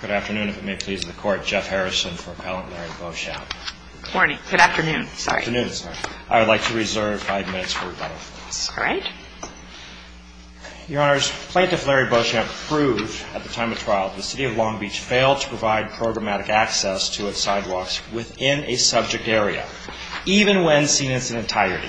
Good afternoon, if it may please the court Jeff Harrison for appellant Larry Beauchamp. Good afternoon. I would like to reserve five minutes for rebuttal. Your Honor, Plaintiff Larry Beauchamp proved at the time of trial that the City of Long Beach failed to provide programmatic access to its sidewalks within a subject area, even when seen in its entirety,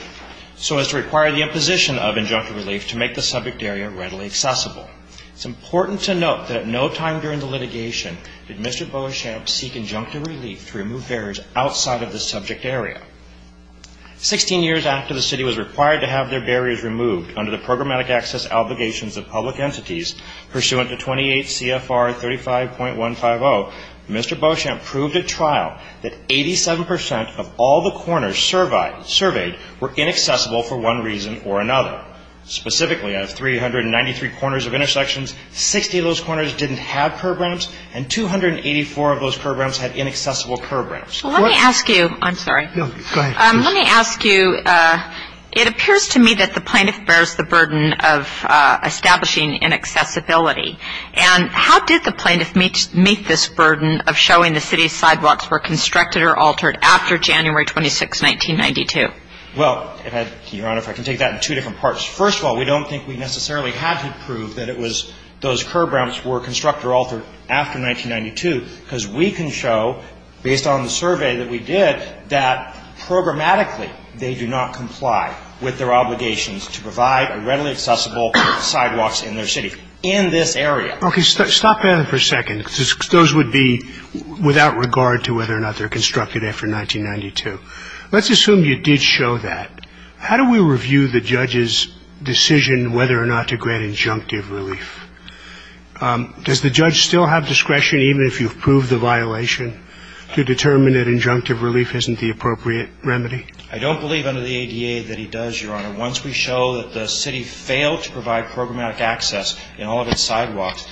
so as to require the imposition of injunctive relief to make the subject area readily accessible. It is important to note that at no time during the litigation did Mr. Beauchamp seek injunctive relief to remove barriers outside of the subject area. Sixteen years after the City was required to have their barriers removed under the programmatic access obligations of public entities pursuant to 28 CFR 35.150, Mr. Beauchamp proved at trial that 87 percent of all the corners surveyed were inaccessible for one reason or another. Specifically out of 393 corners of intersections, 60 of those corners didn't have curb ramps and 284 of those curb ramps had inaccessible curb ramps. Let me ask you, I'm sorry, let me ask you, it appears to me that the plaintiff bears the burden of establishing inaccessibility and how did the plaintiff meet this burden of showing the City's sidewalks were constructed or altered after January 26, 1992? Well, Your Honor, if I can take that in two different parts. First of all, we don't think we necessarily had to prove that it was those curb ramps were constructed or altered after 1992 because we can show, based on the survey that we did, that programmatically they do not comply with their obligations to provide a readily accessible sidewalks in their city, in this area. Okay. Stop there for a second. Those would be without regard to whether or not they're constructed after 1992. Let's assume you did show that. How do we review the judge's decision whether or not to grant injunctive relief? Does the judge still have discretion, even if you've proved the violation, to determine that injunctive relief isn't the appropriate remedy? I don't believe under the ADA that he does, Your Honor. Once we show that the City failed to provide programmatic access in all of its sidewalks,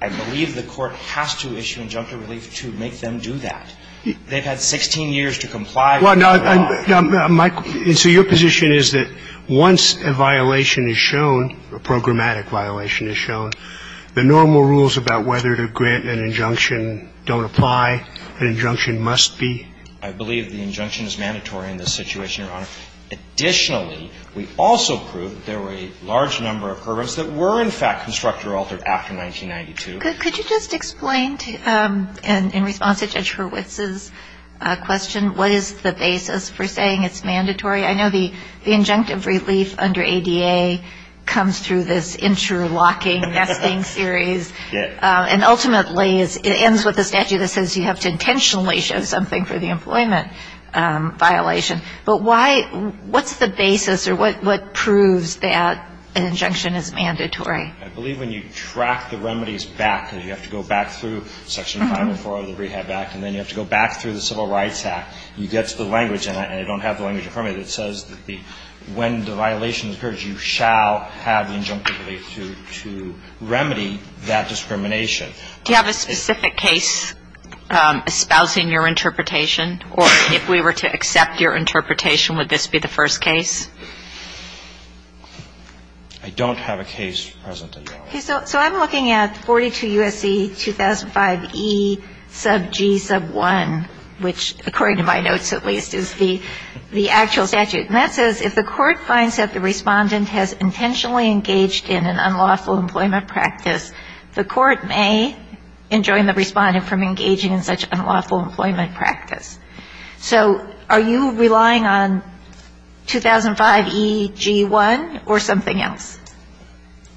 I believe the court has to issue injunctive relief to make them do that. They've had 16 years to comply with the law. Well, now, Mike, so your position is that once a violation is shown, a programmatic violation is shown, the normal rules about whether to grant an injunction don't apply, an injunction must be? I believe the injunction is mandatory in this situation, Your Honor. Additionally, we also proved there were a large number of curb ramps that were, in fact, constructed or altered after 1992. Could you just explain, in response to Judge Hurwitz's question, what is the basis for saying it's mandatory? I know the injunctive relief under ADA comes through this interlocking nesting series. And ultimately, it ends with a statute that says you have to intentionally show something for the employment violation. But what's the basis or what proves that an injunction is mandatory? I believe when you track the remedies back, you have to go back through Section 504 of the Rehab Act, and then you have to go back through the Civil Rights Act. You get to the language, and I don't have the language in front of me, that says when the violation occurs, you shall have the injunctive relief to remedy that discrimination. Do you have a specific case espousing your interpretation? Or if we were to accept your interpretation, would this be the first case? I don't have a case present at the moment. Okay. So I'm looking at 42 U.S.C. 2005e sub g sub 1, which, according to my notes at least, is the actual statute. And that says if the Court finds that the Respondent has intentionally engaged in an unlawful employment practice, the Court may enjoin the Respondent from engaging in such unlawful employment practice. So are you relying on 2005e G1 or something else?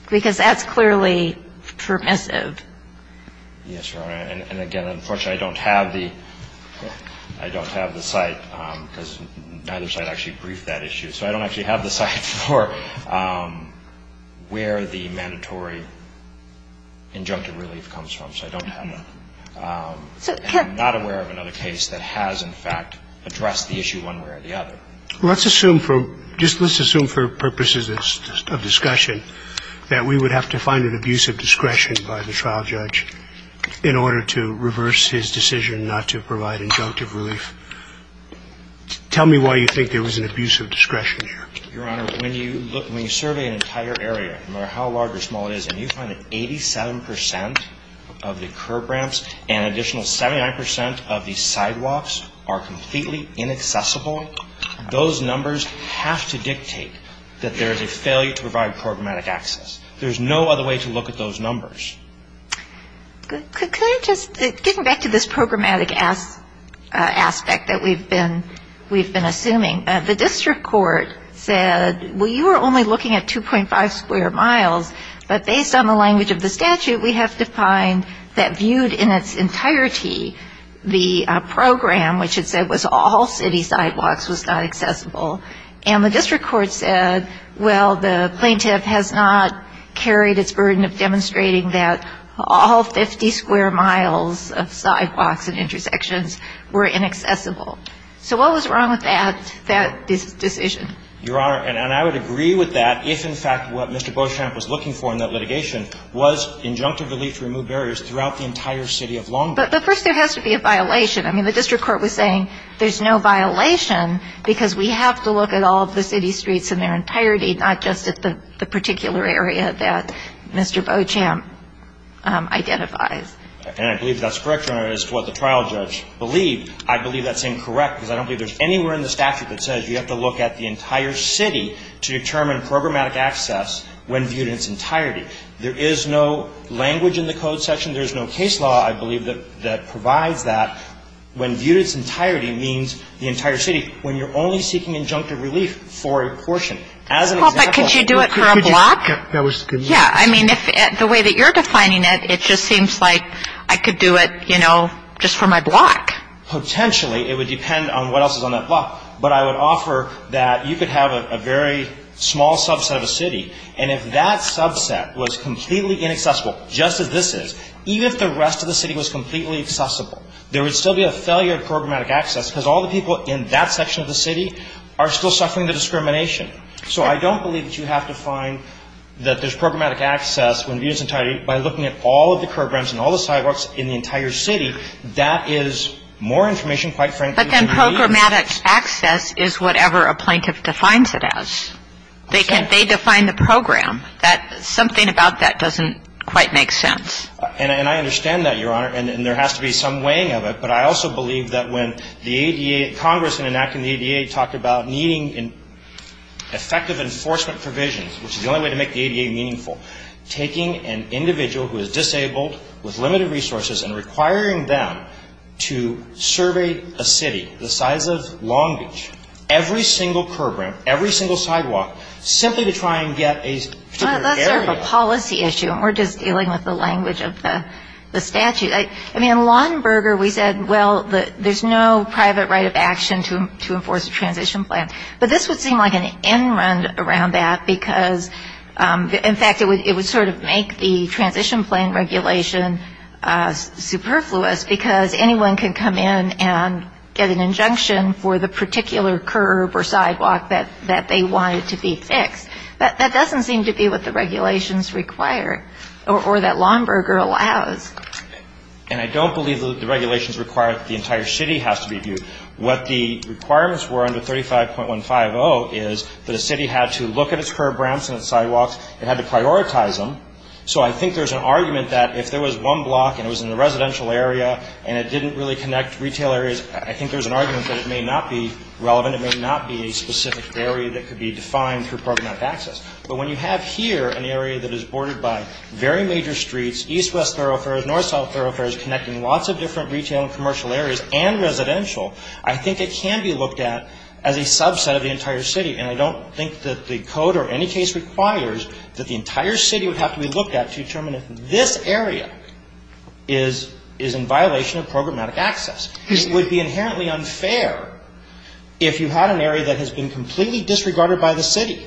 Because that's clearly permissive. Yes, Your Honor. And again, unfortunately, I don't have the site because neither site actually briefed that issue. So I don't actually have the site for where the mandatory injunctive relief comes from. So I don't have that. I'm not aware of another case that has, in fact, addressed the issue one way or the other. Let's assume for purposes of discussion that we would have to find an abusive discretion by the trial judge in order to reverse his decision not to provide injunctive relief. Tell me why you think there was an abusive discretion there. Your Honor, when you survey an entire area, no matter how large or small it is, and you find that 87% of the curb ramps and an additional 79% of the sidewalks are completely inaccessible, those numbers have to dictate that there is a failure to provide programmatic access. There's no other way to look at those numbers. Could I just, getting back to this programmatic aspect that we've been assuming, the district court said, well, you were only looking at 2.5 square miles, but based on the language of the statute, we have to find that viewed in its entirety, the program, which it said was all city sidewalks, was not accessible. And the district court said, well, the plaintiff has not carried its burden of demonstrating that all 50 square miles of sidewalks and intersections were inaccessible. So what was wrong with that decision? Your Honor, and I would agree with that if, in fact, what Mr. Beauchamp was looking for in that litigation was injunctive relief to remove barriers throughout the entire city of Long Beach. But first, there has to be a violation. I mean, the district court was saying there's no violation because we have to look at all of the city streets in their entirety, not just at the particular area that Mr. Beauchamp identifies. And I believe that's correct, Your Honor. As to what the trial judge believed, I believe that's incorrect because I don't believe there's anywhere in the statute that says you have to look at the entire city to determine programmatic access when viewed in its entirety. There is no language in the code section. There is no case law, I believe, that provides that when viewed in its entirety means the entire city, when you're only seeking injunctive relief for a portion. As an example of the case law. Well, but could you do it for a block? That was the good point. Yeah. I mean, the way that you're defining it, it just seems like I could do it, you know, just for my block. Potentially, it would depend on what else is on that block. But I would offer that you could have a very small subset of the city, and if that subset was completely inaccessible, just as this is, even if the rest of the city was completely accessible, there would still be a failure of programmatic access because all the people in that section of the city are still suffering the discrimination. So I don't believe that you have to find that there's programmatic access when viewed in its entirety. By looking at all of the programs and all the sidewalks in the entire city, that is more information, quite frankly. But then programmatic access is whatever a plaintiff defines it as. They define the program. Something about that doesn't quite make sense. And I understand that, Your Honor. And there has to be some weighing of it. But I also believe that when the ADA, Congress enacted the ADA, talked about needing effective enforcement provisions, which is the only way to make the ADA meaningful, taking an individual who is disabled, with limited resources, and requiring them to survey a city the size of Long Beach, every single curb ramp, every single sidewalk, simply to try and get a particular area. Well, that's sort of a policy issue, and we're just dealing with the language of the statute. I mean, in Lauenberger, we said, well, there's no private right of action to enforce a transition plan. But this would seem like an end-run around that, because, in fact, it would sort of make the transition plan regulation superfluous, because anyone can come in and get an injunction for the particular curb or sidewalk that they wanted to be fixed. That doesn't seem to be what the regulations require or that Lauenberger allows. And I don't believe the regulations require that the entire city has to be viewed. What the requirements were under 35.150 is that a city had to look at its curb ramps and its sidewalks. It had to prioritize them. So I think there's an argument that if there was one block and it was in a residential area and it didn't really connect to retail areas, I think there's an argument that it may not be relevant. It may not be a specific area that could be defined through programmatic access. But when you have here an area that is bordered by very major streets, east-west thoroughfares, north-south thoroughfares connecting lots of different retail and commercial areas and residential, I think it can be looked at as a subset of the entire city. And I don't think that the code or any case requires that the entire city would have to be looked at to determine if this area is in violation of programmatic access. It would be inherently unfair if you had an area that has been completely disregarded by the city.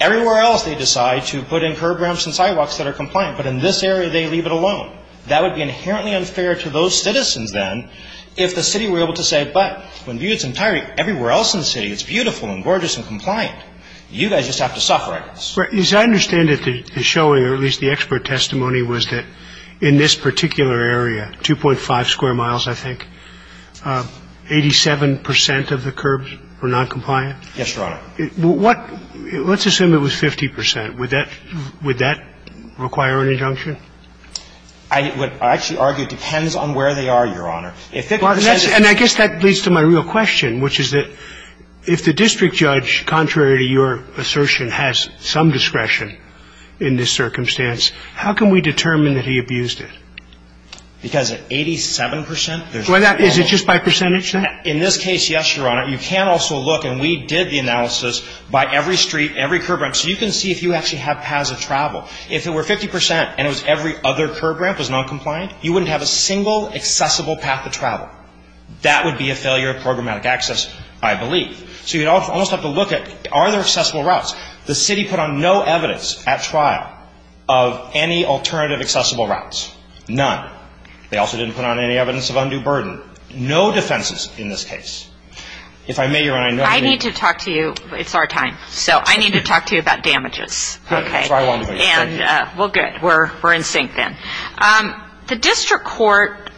Everywhere else they decide to put in curb ramps and sidewalks that are compliant, but in this area they leave it alone. That would be inherently unfair to those citizens then if the city were able to say, but when viewed entirely everywhere else in the city it's beautiful and gorgeous and compliant. You guys just have to suffer, I guess. As I understand it, the showing or at least the expert testimony was that in this particular area, 2.5 square miles, I think, 87 percent of the curbs were noncompliant? Yes, Your Honor. Let's assume it was 50 percent. Would that require an injunction? I would actually argue it depends on where they are, Your Honor. And I guess that leads to my real question, which is that if the district judge, contrary to your assertion, has some discretion in this circumstance, how can we determine that he abused it? Because at 87 percent, there's no rule. Is it just by percentage then? In this case, yes, Your Honor. You can also look, and we did the analysis, by every street, every curb ramp, so you can see if you actually have paths of travel. If it were 50 percent and it was every other curb ramp was noncompliant, you wouldn't have a single accessible path of travel. That would be a failure of programmatic access, I believe. So you'd almost have to look at, are there accessible routes? The city put on no evidence at trial of any alternative accessible routes, none. They also didn't put on any evidence of undue burden, no defenses in this case. If I may, Your Honor, I know you need to talk to you. I need to talk to you. It's our time. So I need to talk to you about damages. Okay. So I won't, please. Thank you. Well, good. We're in sync then. The district court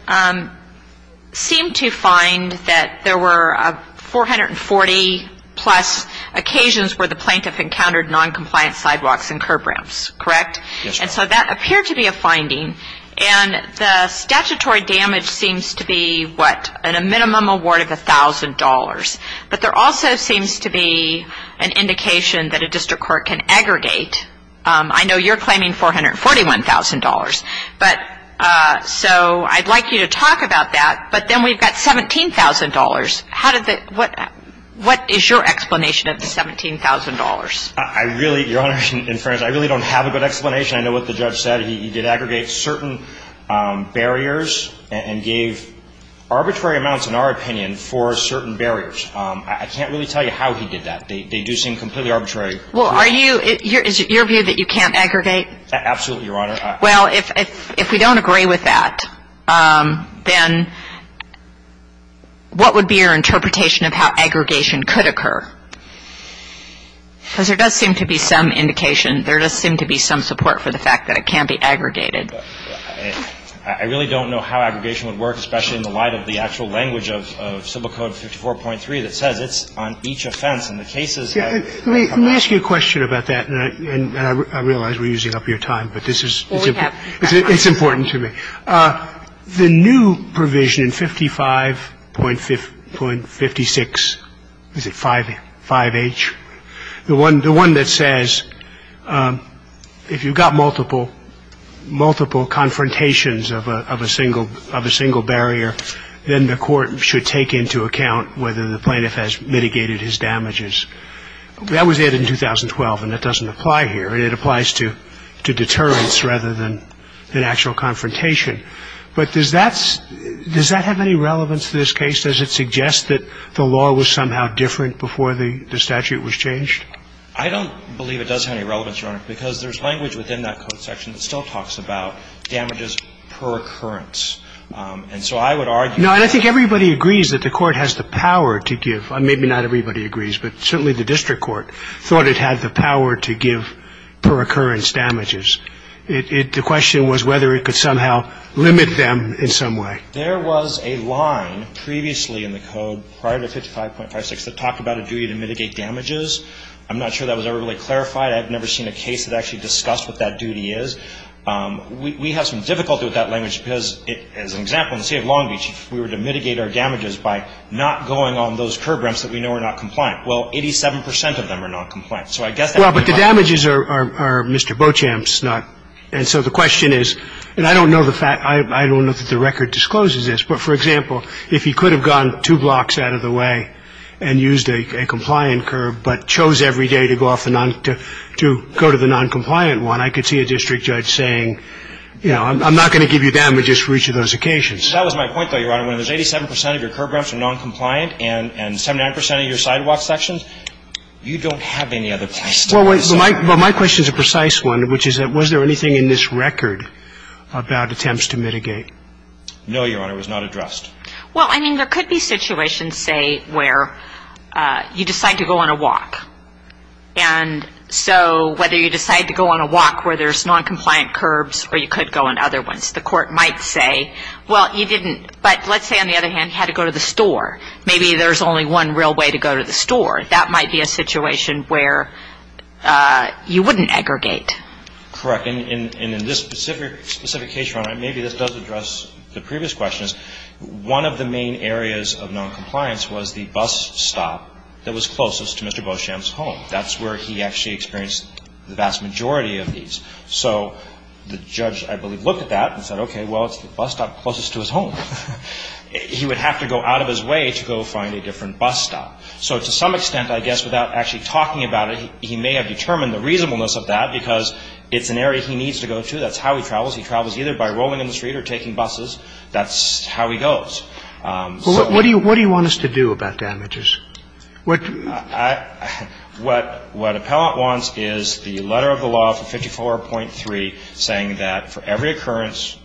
seemed to find that there were 440-plus occasions where the plaintiff encountered noncompliant sidewalks and curb ramps, correct? Yes, Your Honor. And so that appeared to be a finding. And the statutory damage seems to be, what, a minimum award of $1,000. But there also seems to be an indication that a district court can aggregate. I know you're claiming $441,000. So I'd like you to talk about that. But then we've got $17,000. What is your explanation of the $17,000? I really, Your Honor, in fairness, I really don't have a good explanation. I know what the judge said. He did aggregate certain barriers and gave arbitrary amounts, in our opinion, for certain barriers. I can't really tell you how he did that. They do seem completely arbitrary. Well, are you – is it your view that you can't aggregate? Absolutely, Your Honor. Well, if we don't agree with that, then what would be your interpretation of how aggregation could occur? Because there does seem to be some indication. There does seem to be some support for the fact that it can be aggregated. I really don't know how aggregation would work, especially in the light of the actual language of Civil Code 54.3 that says it's on each offense. And the case is that – Let me ask you a question about that. And I realize we're using up your time, but this is – it's important to me. The new provision in 55.56 – is it 5H? The one that says if you've got multiple confrontations of a single barrier, then the court should take into account whether the plaintiff has mitigated his damages. That was added in 2012, and that doesn't apply here. It applies to deterrence rather than actual confrontation. But does that – does that have any relevance to this case? Does it suggest that the law was somehow different before the statute was changed? I don't believe it does have any relevance, Your Honor, because there's language within that code section that still talks about damages per occurrence. And so I would argue – No, and I think everybody agrees that the court has the power to give – maybe not everybody agrees, but certainly the district court thought it had the power to give per occurrence damages. The question was whether it could somehow limit them in some way. There was a line previously in the code prior to 55.56 that talked about a duty to mitigate damages. I'm not sure that was ever really clarified. I've never seen a case that actually discussed what that duty is. We have some difficulty with that language because, as an example, in the state of Long Beach, if we were to mitigate our damages by not going on those curb ramps that we know are not compliant, well, 87 percent of them are not compliant. So I guess that would be why. Well, but the damages are Mr. Beauchamp's, not – and so the question is – and I don't know the fact – I don't know that the record discloses this, but, for example, if he could have gone two blocks out of the way and used a compliant curb but chose every day to go off the – to go to the noncompliant one, I could see a district judge saying, you know, I'm not going to give you damages for each of those occasions. That was my point, though, Your Honor. When it was 87 percent of your curb ramps are noncompliant and 79 percent of your sidewalk sections, you don't have any other place to go. Well, my question is a precise one, which is that was there anything in this record about attempts to mitigate? No, Your Honor. It was not addressed. Well, I mean, there could be situations, say, where you decide to go on a walk. And so whether you decide to go on a walk where there's noncompliant curbs or you could go on other ones, the court might say, well, you didn't – but let's say, on the other hand, you had to go to the store. Maybe there's only one real way to go to the store. That might be a situation where you wouldn't aggregate. Correct. But in this specific case, Your Honor, maybe this does address the previous questions. One of the main areas of noncompliance was the bus stop that was closest to Mr. Beauchamp's home. That's where he actually experienced the vast majority of these. So the judge, I believe, looked at that and said, okay, well, it's the bus stop closest to his home. He would have to go out of his way to go find a different bus stop. So to some extent, I guess, without actually talking about it, he may have But the judge said, no, that's where he needs to go to, that's how he travels. He travels either by rolling in the street or taking buses. That's how he goes. So he's not – But what do you want us to do about damages? What – What – what appellant wants is the letter of the law for 54.3 saying that for every occurrence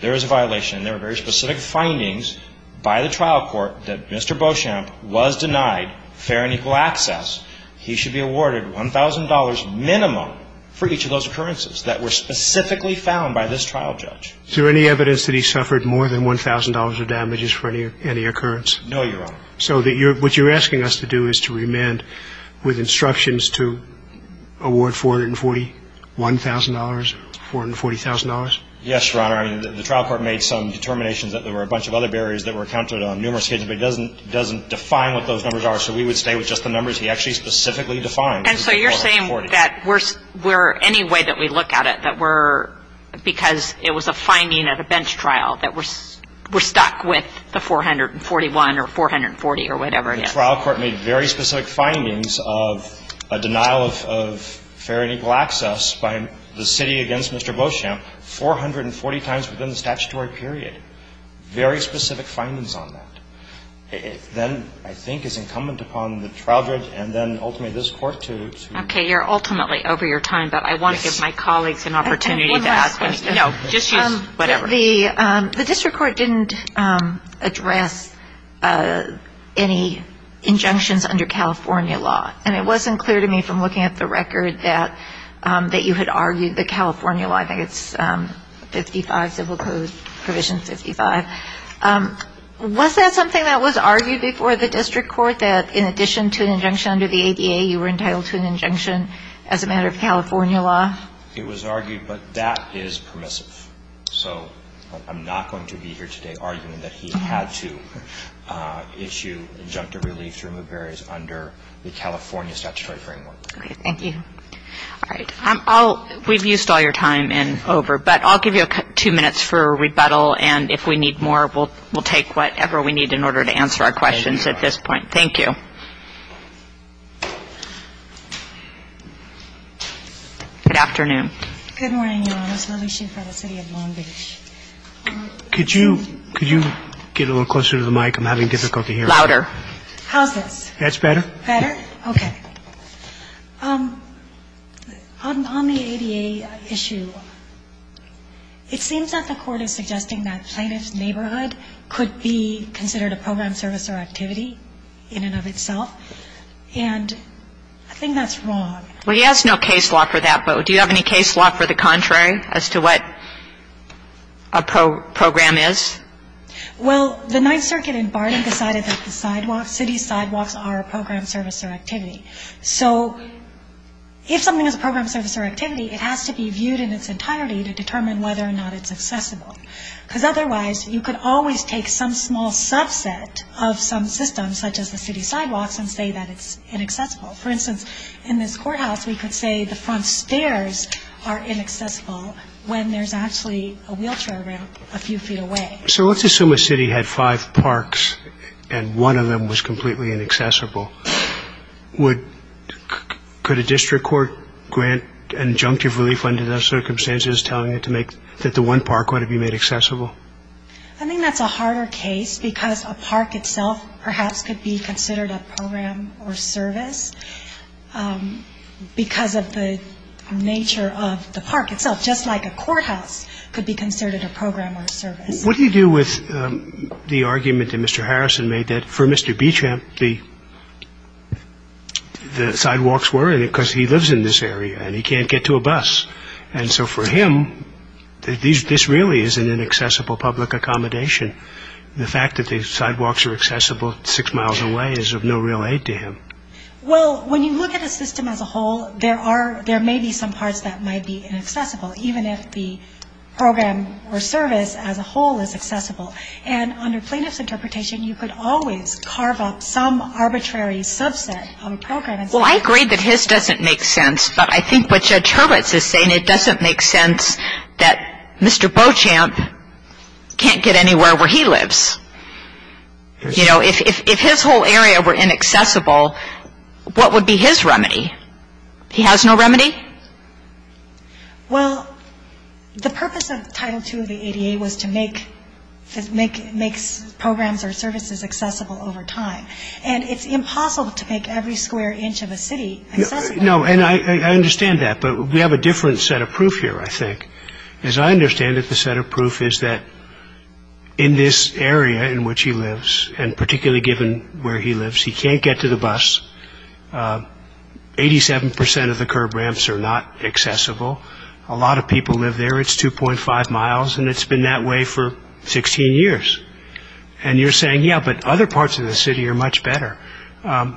there is a violation, and there are very specific findings by the trial court that Mr. Beauchamp was denied fair and equal access, he should be awarded $1,000 minimum for each of those occurrences that were specifically found by this trial judge. Is there any evidence that he suffered more than $1,000 of damages for any occurrence? No, Your Honor. So what you're asking us to do is to remand with instructions to award $441,000, $440,000? Yes, Your Honor. The trial court made some determinations that there were a bunch of other things, but it doesn't define what those numbers are, so we would stay with just the numbers he actually specifically defined. And so you're saying that we're – any way that we look at it, that we're – because it was a finding at a bench trial that we're stuck with the 441 or 440 or whatever it is. The trial court made very specific findings of a denial of fair and equal access by the city against Mr. Beauchamp 440 times within the statutory period. Very specific findings on that. Then I think it's incumbent upon the trial judge and then ultimately this Court to – Okay. You're ultimately over your time, but I want to give my colleagues an opportunity to ask questions. No. Just use whatever. The district court didn't address any injunctions under California law. And it wasn't clear to me from looking at the record that you had argued that Was that something that was argued before the district court, that in addition to an injunction under the ADA, you were entitled to an injunction as a matter of California law? It was argued, but that is permissive. So I'm not going to be here today arguing that he had to issue injunctive relief to remove barriers under the California statutory framework. Okay. Thank you. All right. We've used all your time and over, but I'll give you two minutes for rebuttal, and if we need more, we'll take whatever we need in order to answer our questions at this point. Thank you. Good afternoon. Good morning, Your Honor. This is Alicia from the city of Long Beach. Could you get a little closer to the mic? I'm having difficulty hearing you. Louder. How's this? That's better. Better? Okay. On the ADA issue, it seems that the court is suggesting that plaintiff's neighborhood could be considered a program, service, or activity in and of itself, and I think that's wrong. Well, he has no case law for that, but do you have any case law for the contrary as to what a program is? Well, the Ninth Circuit in Barton decided that the sidewalks, city sidewalks, are a program, service, or activity. So if something is a program, service, or activity, it has to be viewed in its entirety to determine whether or not it's accessible, because otherwise you could always take some small subset of some systems, such as the city sidewalks, and say that it's inaccessible. For instance, in this courthouse, we could say the front stairs are inaccessible when there's actually a wheelchair ramp a few feet away. So let's assume a city had five parks and one of them was completely inaccessible. Could a district court grant an injunctive relief under those circumstances telling it to make that the one park want to be made accessible? I think that's a harder case because a park itself perhaps could be considered a program or service because of the nature of the park itself, just like a courthouse could be considered a program or service. What do you do with the argument that Mr. Harrison made that for Mr. Beachamp, the sidewalks were because he lives in this area and he can't get to a bus? And so for him, this really is an inaccessible public accommodation. The fact that the sidewalks are accessible six miles away is of no real aid to him. Well, when you look at a system as a whole, there may be some parts that might be inaccessible, even if the program or service as a whole is accessible. And under plaintiff's interpretation, you could always carve up some arbitrary subset of a program. Well, I agree that his doesn't make sense, but I think what Judge Hurwitz is saying, it doesn't make sense that Mr. Beauchamp can't get anywhere where he lives. You know, if his whole area were inaccessible, what would be his remedy? He has no remedy? Well, the purpose of Title II of the ADA was to make programs or services accessible over time, and it's impossible to make every square inch of a city accessible. No, and I understand that, but we have a different set of proof here, I think. As I understand it, the set of proof is that in this area in which he lives, and particularly given where he lives, he can't get to the bus. Eighty-seven percent of the curb ramps are not accessible. A lot of people live there. It's 2.5 miles, and it's been that way for 16 years. And you're saying, yeah, but other parts of the city are much better. Doesn't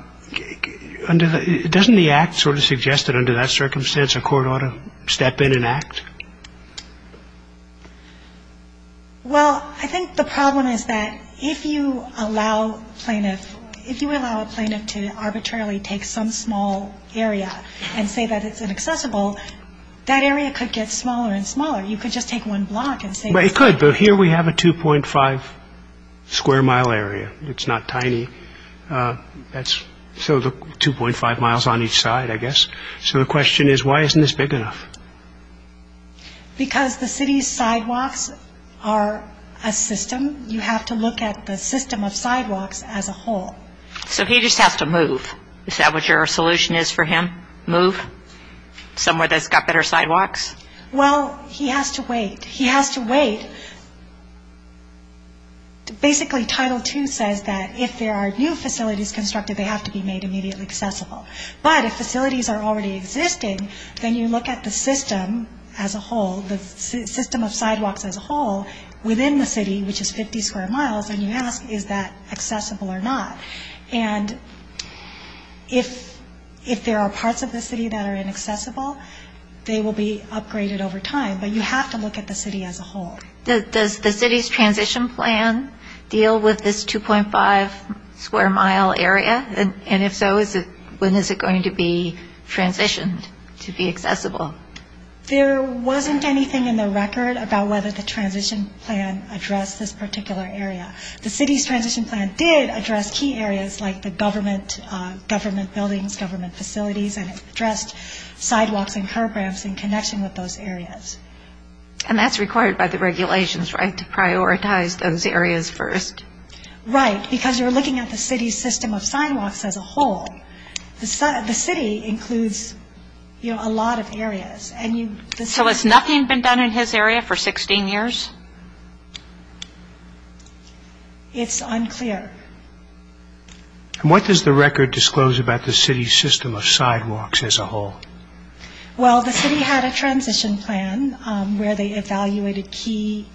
the Act sort of suggest that under that circumstance a court ought to step in and act? Well, I think the problem is that if you allow a plaintiff to arbitrarily take some small area and say that it's inaccessible, that area could get smaller and smaller. You could just take one block and say that. It could, but here we have a 2.5-square-mile area. It's not tiny. So 2.5 miles on each side, I guess. So the question is, why isn't this big enough? Because the city's sidewalks are a system. You have to look at the system of sidewalks as a whole. So he just has to move. Is that what your solution is for him? Move somewhere that's got better sidewalks? Well, he has to wait. He has to wait. Basically, Title II says that if there are new facilities constructed, they have to be made immediately accessible. But if facilities are already existing, then you look at the system as a whole, the system of sidewalks as a whole within the city, which is 50 square miles, and you ask, is that accessible or not? And if there are parts of the city that are inaccessible, they will be upgraded over time. But you have to look at the city as a whole. Does the city's transition plan deal with this 2.5-square-mile area? And if so, when is it going to be transitioned to be accessible? There wasn't anything in the record about whether the transition plan addressed this particular area. The city's transition plan did address key areas like the government buildings, government facilities, and addressed sidewalks and curb ramps in connection with those areas. And that's required by the regulations, right, to prioritize those areas first? Right, because you're looking at the city's system of sidewalks as a whole. The city includes a lot of areas. So has nothing been done in his area for 16 years? It's unclear. And what does the record disclose about the city's system of sidewalks as a whole? Well, the city had a transition plan where they evaluated key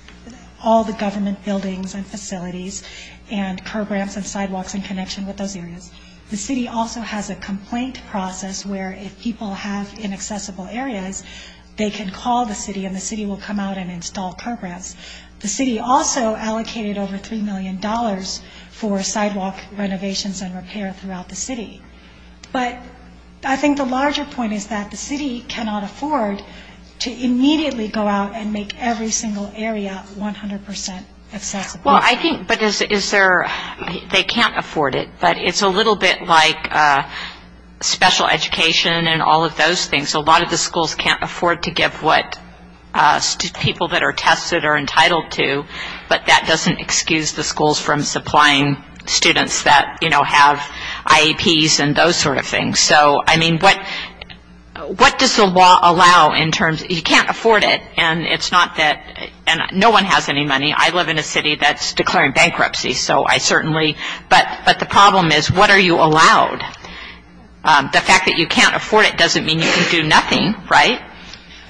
all the government buildings and facilities and curb ramps and sidewalks in connection with those areas. The city also has a complaint process where if people have inaccessible areas, they can call the city and the city will come out and install curb ramps. The city also allocated over $3 million for sidewalk renovations and repair throughout the city. But I think the larger point is that the city cannot afford to immediately go out and make every single area 100% accessible. Well, I think, but is there they can't afford it. But it's a little bit like special education and all of those things. A lot of the schools can't afford to give what people that are tested are entitled to, but that doesn't excuse the schools from supplying students that have IEPs and those sort of things. So, I mean, what does the law allow in terms, you can't afford it, and it's not that, and no one has any money. I live in a city that's declaring bankruptcy, so I certainly, but the problem is what are you allowed? The fact that you can't afford it doesn't mean you can do nothing, right?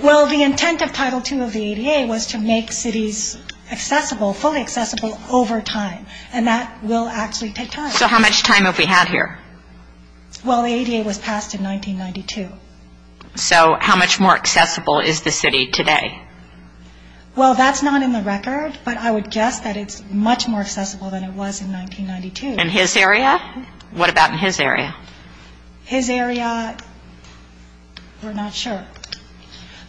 Well, the intent of Title II of the ADA was to make cities accessible, fully accessible over time, and that will actually take time. So how much time have we had here? Well, the ADA was passed in 1992. So how much more accessible is the city today? Well, that's not in the record, but I would guess that it's much more accessible than it was in 1992. In his area? What about in his area? His area, we're not sure.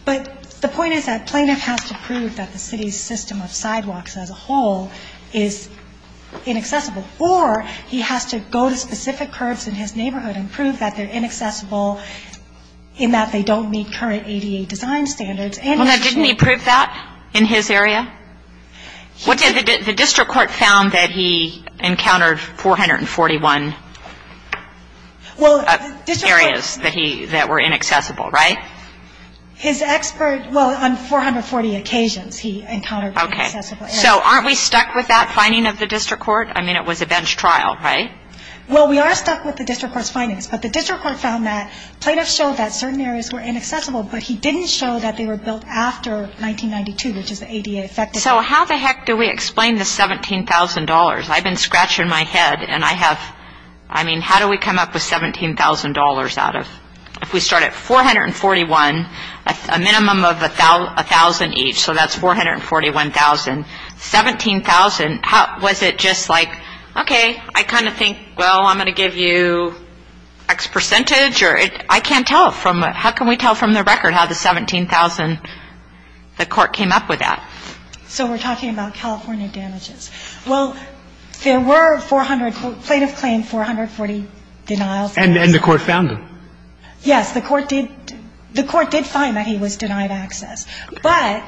But the point is that plaintiff has to prove that the city's system of sidewalks as a whole is inaccessible, or he has to go to specific curbs in his neighborhood and prove that they're inaccessible in that they don't meet current ADA design standards. Well, now, didn't he prove that in his area? The district court found that he encountered 441 areas that were inaccessible, right? His expert, well, on 440 occasions he encountered inaccessible areas. Okay. So aren't we stuck with that finding of the district court? I mean, it was a bench trial, right? Well, we are stuck with the district court's findings, but the district court found that plaintiffs showed that certain areas were inaccessible, but he didn't show that they were built after 1992, which is the ADA effective date. So how the heck do we explain the $17,000? I've been scratching my head, and I have, I mean, how do we come up with $17,000 out of, if we start at 441, a minimum of $1,000 each, so that's $441,000. $17,000, was it just like, okay, I kind of think, well, I'm going to give you X percentage? I can't tell from, how can we tell from the record how the $17,000, the court came up with that? So we're talking about California damages. Well, there were 400, plaintiff claimed 440 denials. And the court found them? Yes. The court did, the court did find that he was denied access. But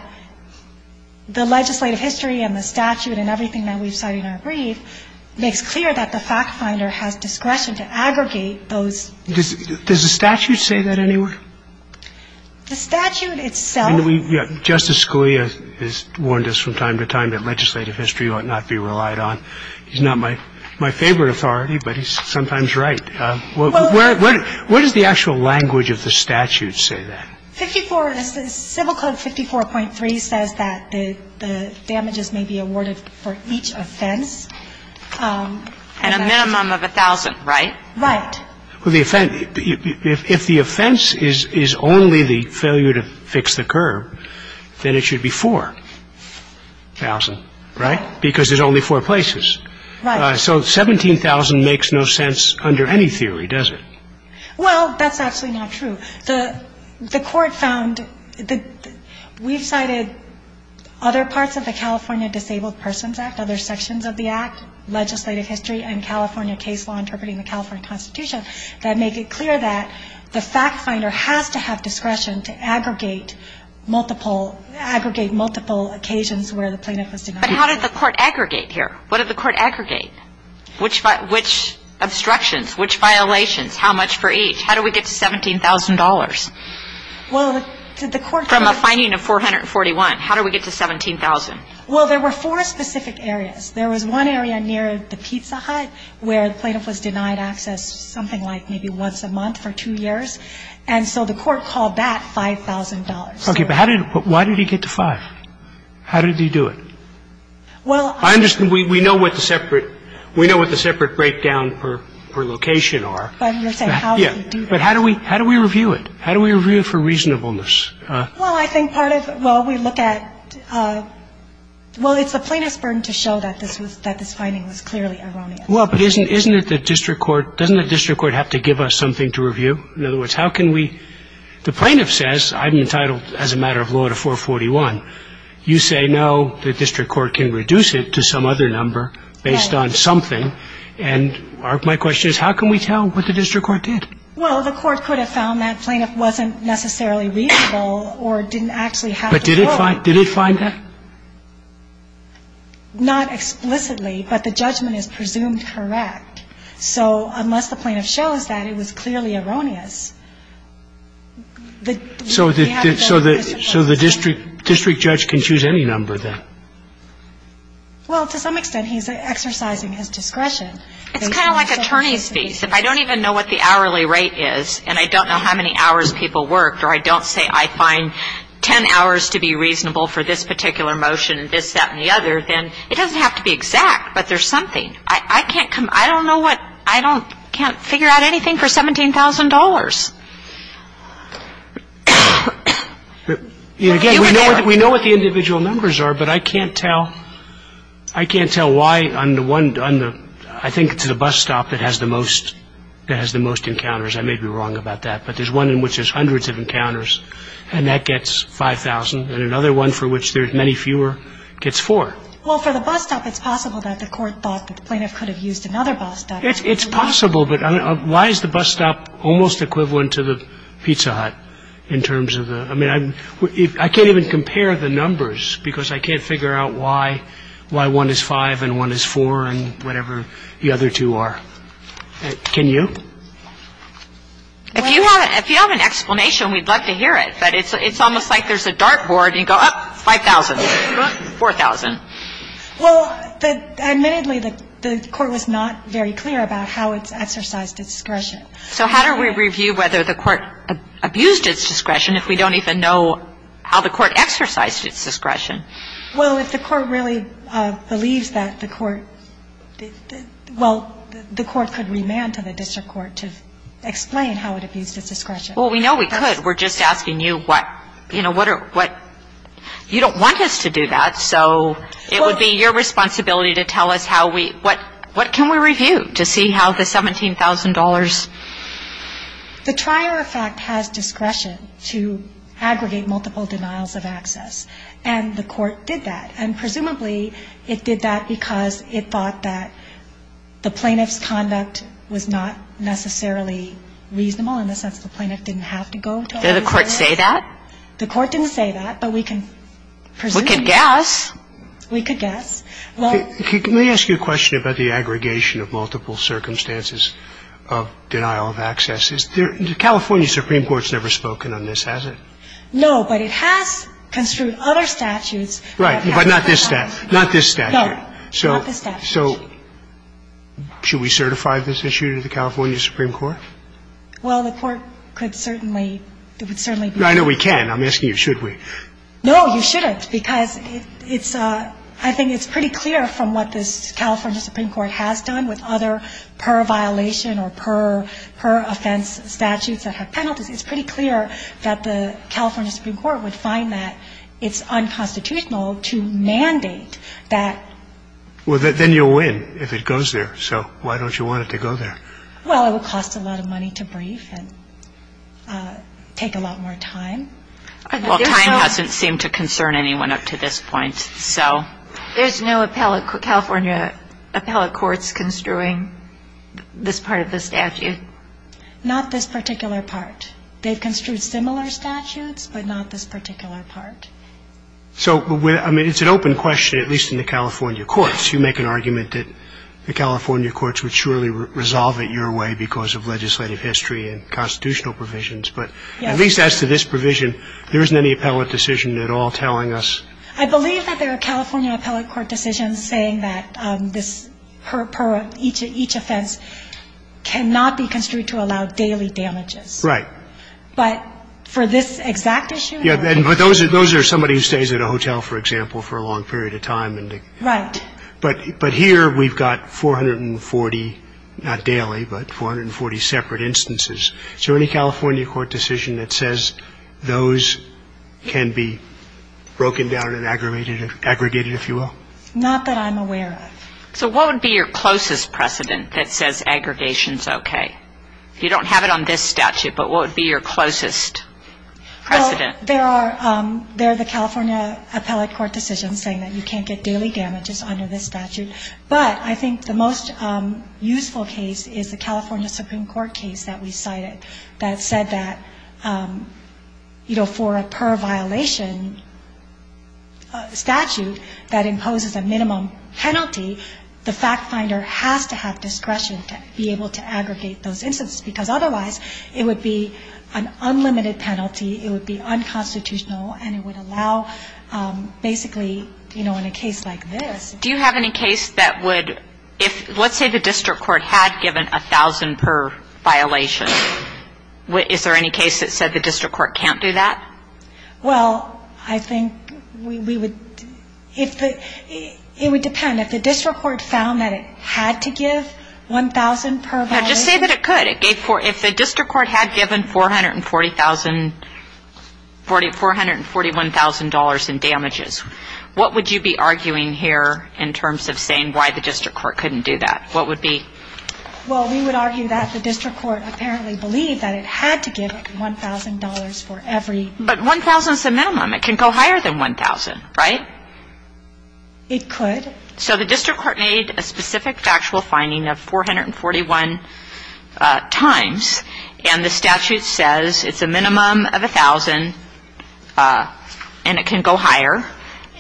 the legislative history and the statute and everything that we've cited in our brief makes clear that the fact finder has discretion to aggregate those. Does the statute say that anywhere? The statute itself. Justice Scalia has warned us from time to time that legislative history ought not be relied on. He's not my favorite authority, but he's sometimes right. Where does the actual language of the statute say that? Civil Code 54.3 says that the damages may be awarded for each offense. And a minimum of $1,000, right? Right. Well, the offense, if the offense is only the failure to fix the curb, then it should be $4,000, right? Because there's only four places. Right. So $17,000 makes no sense under any theory, does it? Well, that's actually not true. The court found that we've cited other parts of the California Disabled Persons Act, other sections of the act, legislative history, and California case law interpreting the California Constitution that make it clear that the fact finder has to have discretion to aggregate multiple occasions where the plaintiff was denied. But how did the court aggregate here? What did the court aggregate? Which obstructions, which violations, how much for each? How do we get to $17,000? Well, did the court find it? From a finding of 441, how do we get to 17,000? Well, there were four specific areas. There was one area near the Pizza Hut where the plaintiff was denied access something like maybe once a month for two years. And so the court called that $5,000. Okay. But how did he get to 5? How did he do it? Well, I understand. We know what the separate breakdown per location are. But I'm just saying how did he do that? But how do we review it? How do we review it for reasonableness? Well, I think part of it, well, we look at, well, it's the plaintiff's burden to show that this finding was clearly erroneous. Well, but isn't it the district court, doesn't the district court have to give us something to review? In other words, how can we, the plaintiff says I'm entitled as a matter of law to 441. You say no, the district court can reduce it to some other number based on something. And my question is how can we tell what the district court did? Well, the court could have found that plaintiff wasn't necessarily reasonable or didn't actually have to show. But did it find that? Not explicitly, but the judgment is presumed correct. So unless the plaintiff shows that it was clearly erroneous, we have the district court. So the district judge can choose any number then? Well, to some extent he's exercising his discretion. It's kind of like attorney's fees. If I don't even know what the hourly rate is and I don't know how many hours people worked or I don't say I find ten hours to be reasonable for this particular motion and this, that and the other, then it doesn't have to be exact, but there's something. I can't come, I don't know what, I can't figure out anything for $17,000. Again, we know what the individual numbers are, but I can't tell, I can't tell why on the one, I think it's the bus stop that has the most encounters. I may be wrong about that. But there's one in which there's hundreds of encounters and that gets $5,000. And another one for which there's many fewer gets $4,000. Well, for the bus stop it's possible that the court thought that the plaintiff could have used another bus stop. But why is the bus stop almost impossible? It's almost equivalent to the Pizza Hut in terms of the, I mean, I can't even compare the numbers because I can't figure out why one is five and one is four and whatever the other two are. Can you? If you have an explanation, we'd love to hear it. But it's almost like there's a dart board and you go, oh, $5,000. $4,000. Well, admittedly, the court was not very clear about how it's exercised discretion. So how do we review whether the court abused its discretion if we don't even know how the court exercised its discretion? Well, if the court really believes that the court, well, the court could remand to the district court to explain how it abused its discretion. Well, we know we could. We're just asking you what, you know, what are, what, you don't want us to do that. So it would be your responsibility to tell us how we, what, what can we review to see how the $17,000. The Trier effect has discretion to aggregate multiple denials of access. And the court did that. And presumably it did that because it thought that the plaintiff's conduct was not necessarily reasonable in the sense the plaintiff didn't have to go. Did the court say that? The court didn't say that, but we can presume. We could guess. We could guess. Well. Let me ask you a question about the aggregation of multiple circumstances of denial of access. The California Supreme Court's never spoken on this, has it? No, but it has construed other statutes. Right. But not this statute. Not this statute. No, not this statute. So should we certify this issue to the California Supreme Court? Well, the court could certainly, it would certainly be. I know we can. I'm asking you should we. No, you shouldn't, because it's, I think it's pretty clear from what this California Supreme Court has done with other per-violation or per-offense statutes that have penalties, it's pretty clear that the California Supreme Court would find that it's unconstitutional to mandate that. Well, then you'll win if it goes there. So why don't you want it to go there? Well, it would cost a lot of money to brief and take a lot more time. Well, time doesn't seem to concern anyone up to this point, so. There's no appellate, California appellate courts construing this part of the statute? Not this particular part. They've construed similar statutes, but not this particular part. So, I mean, it's an open question, at least in the California courts. You make an argument that the California courts would surely resolve it your way because of legislative history and constitutional provisions. But at least as to this provision, there isn't any appellate decision at all telling us. I believe that there are California appellate court decisions saying that this, per each offense, cannot be construed to allow daily damages. Right. But for this exact issue? Yeah, but those are somebody who stays at a hotel, for example, for a long period of time. Right. But here we've got 440, not daily, but 440 separate instances. Is there any California court decision that says those can be broken down and aggregated, if you will? Not that I'm aware of. So what would be your closest precedent that says aggregation is okay? You don't have it on this statute, but what would be your closest precedent? Well, there are the California appellate court decisions saying that you can't get daily damages under this statute. But I think the most useful case is the California Supreme Court case that we cited that said that, you know, for a per-violation statute that imposes a minimum penalty, the fact finder has to have discretion to be able to aggregate those instances because otherwise it would be an unlimited penalty, it would be unconstitutional, and it would allow basically, you know, in a case like this. Do you have any case that would, if let's say the district court had given 1,000 per violation, is there any case that said the district court can't do that? Well, I think we would, it would depend. If the district court found that it had to give 1,000 per violation. No, just say that it could. If the district court had given $441,000 in damages, what would you be arguing here in terms of saying why the district court couldn't do that? What would be? Well, we would argue that the district court apparently believed that it had to give $1,000 for every. But 1,000 is the minimum. It can go higher than 1,000, right? It could. So the district court made a specific factual finding of 441 times, and the statute says it's a minimum of 1,000, and it can go higher.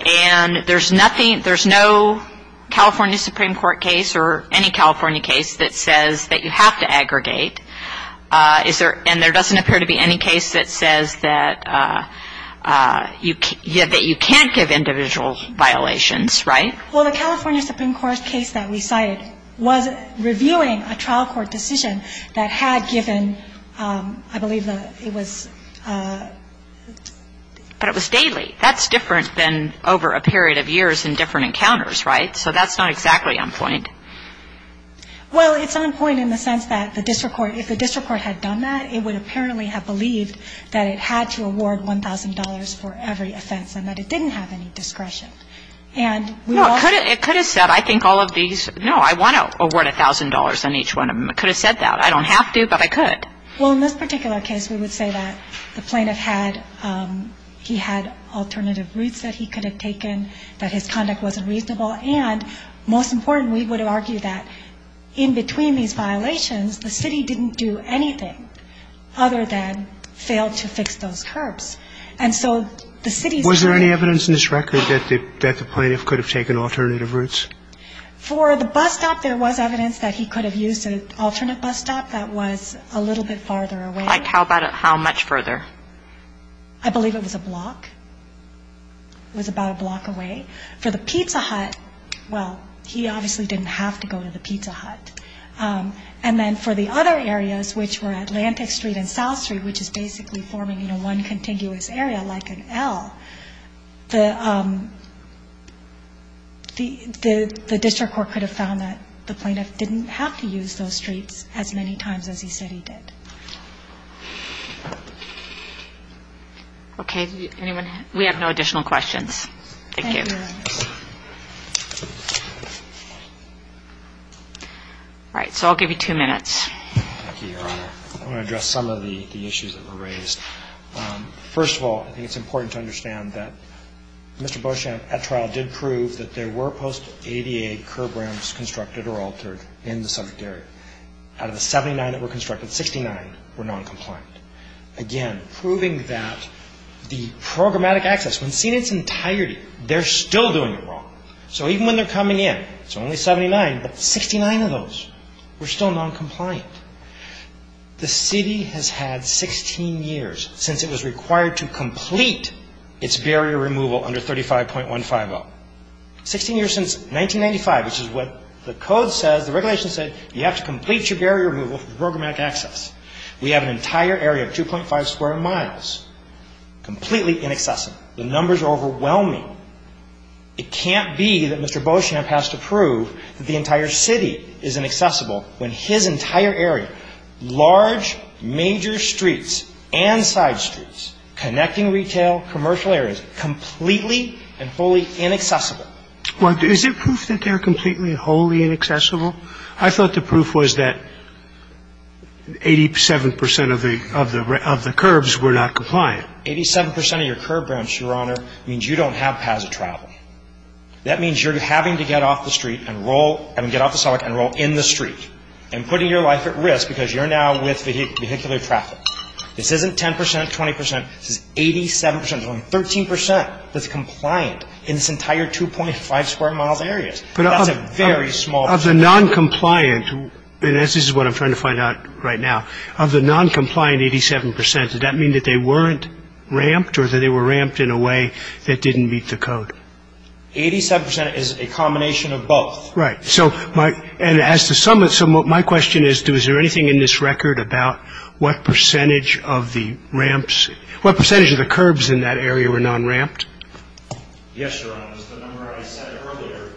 And there's nothing, there's no California Supreme Court case or any California case that says that you have to aggregate. And there doesn't appear to be any case that says that you can't give individual violations, right? Well, the California Supreme Court case that we cited was reviewing a trial court decision that had given, I believe it was, but it was daily. That's different than over a period of years and different encounters, right? So that's not exactly on point. Well, it's on point in the sense that the district court, if the district court had done that, it would apparently have believed that it had to award $1,000 for every offense and that it didn't have any discretion. And we also ---- No, it could have said, I think all of these, no, I want to award $1,000 on each one of them. It could have said that. I don't have to, but I could. Well, in this particular case, we would say that the plaintiff had, he had alternative routes that he could have taken, that his conduct wasn't reasonable, and most important, we would argue that in between these violations, the city didn't do anything other than fail to fix those curbs. And so the city's ---- Was there any evidence in this record that the plaintiff could have taken alternative routes? For the bus stop, there was evidence that he could have used an alternate bus stop that was a little bit farther away. Like how much further? I believe it was a block. It was about a block away. For the pizza hut, well, he obviously didn't have to go to the pizza hut. And then for the other areas, which were Atlantic Street and South Street, which is basically forming, you know, one contiguous area like an L, the district court could have found that the plaintiff didn't have to use those streets as many times as he said he did. Okay. Anyone? We have no additional questions. Thank you. Thank you, Your Honor. All right. So I'll give you two minutes. Thank you, Your Honor. I want to address some of the issues that were raised. First of all, I think it's important to understand that Mr. Bush, at trial, did prove that there were post-ADA curb ramps constructed or altered in the subject area. Out of the 79 that were constructed, 69 were noncompliant. Again, proving that the programmatic access, when seen in its entirety, they're still doing it wrong. So even when they're coming in, it's only 79, but 69 of those were still noncompliant. The city has had 16 years since it was required to complete its barrier removal under 35.150. 16 years since 1995, which is what the code says, the regulations say, you have to complete your barrier removal for programmatic access. We have an entire area of 2.5 square miles completely inaccessible. The numbers are overwhelming. It can't be that Mr. Beauchamp has to prove that the entire city is inaccessible when his entire area, large, major streets and side streets, connecting retail, commercial areas, completely and fully inaccessible. Well, is it proof that they're completely, wholly inaccessible? I thought the proof was that 87% of the curbs were not compliant. Eighty-seven percent of your curb ramps, Your Honor, means you don't have paths of travel. That means you're having to get off the street and roll, I mean, get off the sidewalk and roll in the street and putting your life at risk because you're now with vehicular traffic. This isn't 10%, 20%. This is 87%. There's only 13% that's compliant in this entire 2.5 square miles area. That's a very small percentage. Of the noncompliant, and this is what I'm trying to find out right now, of the noncompliant 87%, does that mean that they weren't ramped or that they were ramped in a way that didn't meet the code? Eighty-seven percent is a combination of both. Right. And as to some, my question is, is there anything in this record about what percentage of the ramps, what percentage of the curbs in that area were non-ramped? Yes, Your Honor. It was the number I said earlier.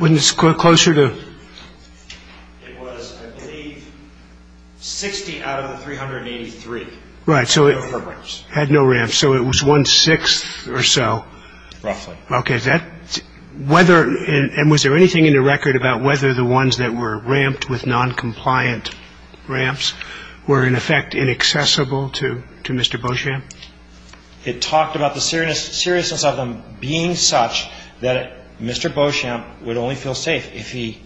Wasn't it closer to? It was, I believe, 60 out of the 383. Right. Had no ramps. Had no ramps. So it was one-sixth or so. Roughly. Okay. And was there anything in the record about whether the ones that were ramped with noncompliant ramps were, in effect, inaccessible to Mr. Beauchamp? It talked about the seriousness of them being such that Mr. Beauchamp would only feel safe if he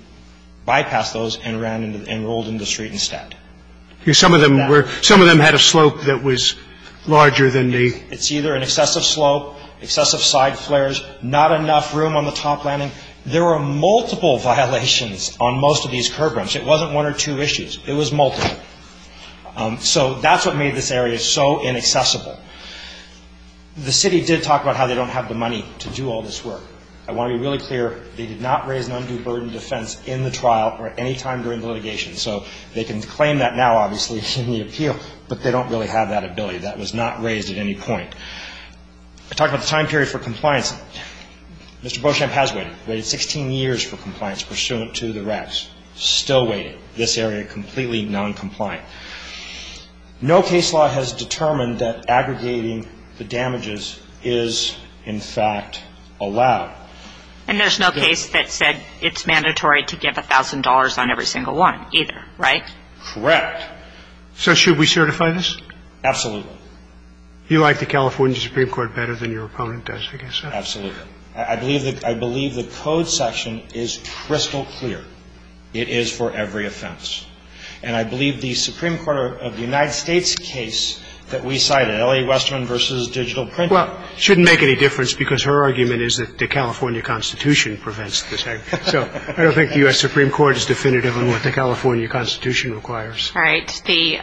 bypassed those and rolled into the street instead. Some of them had a slope that was larger than the? It's either an excessive slope, excessive side flares, not enough room on the top landing. There were multiple violations on most of these curb ramps. It wasn't one or two issues. It was multiple. So that's what made this area so inaccessible. The city did talk about how they don't have the money to do all this work. I want to be really clear, they did not raise an undue burden of defense in the trial or at any time during the litigation. So they can claim that now, obviously, in the appeal, but they don't really have that ability. That was not raised at any point. It talked about the time period for compliance. Mr. Beauchamp has waited. Waited 16 years for compliance pursuant to the rest. Still waiting. This area completely noncompliant. No case law has determined that aggregating the damages is, in fact, allowed. And there's no case that said it's mandatory to give $1,000 on every single one either, right? Correct. So should we certify this? Absolutely. You like the California Supreme Court better than your opponent does, I guess. Absolutely. I believe the code section is crystal clear. It is for every offense. And I believe the Supreme Court of the United States case that we cited, L.A. Westerman v. Digital Printing. Well, it shouldn't make any difference because her argument is that the California Constitution prevents this. So I don't think the U.S. Supreme Court is definitive on what the California Constitution requires. All right. Thank you.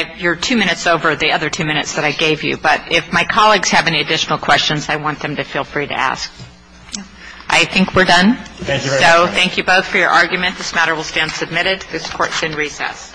And your two minutes over the other two minutes that I gave you. But if my colleagues have any additional questions, I want them to feel free to ask. I think we're done. Thank you very much. So thank you both for your argument. This matter will stand submitted. This Court is in recess.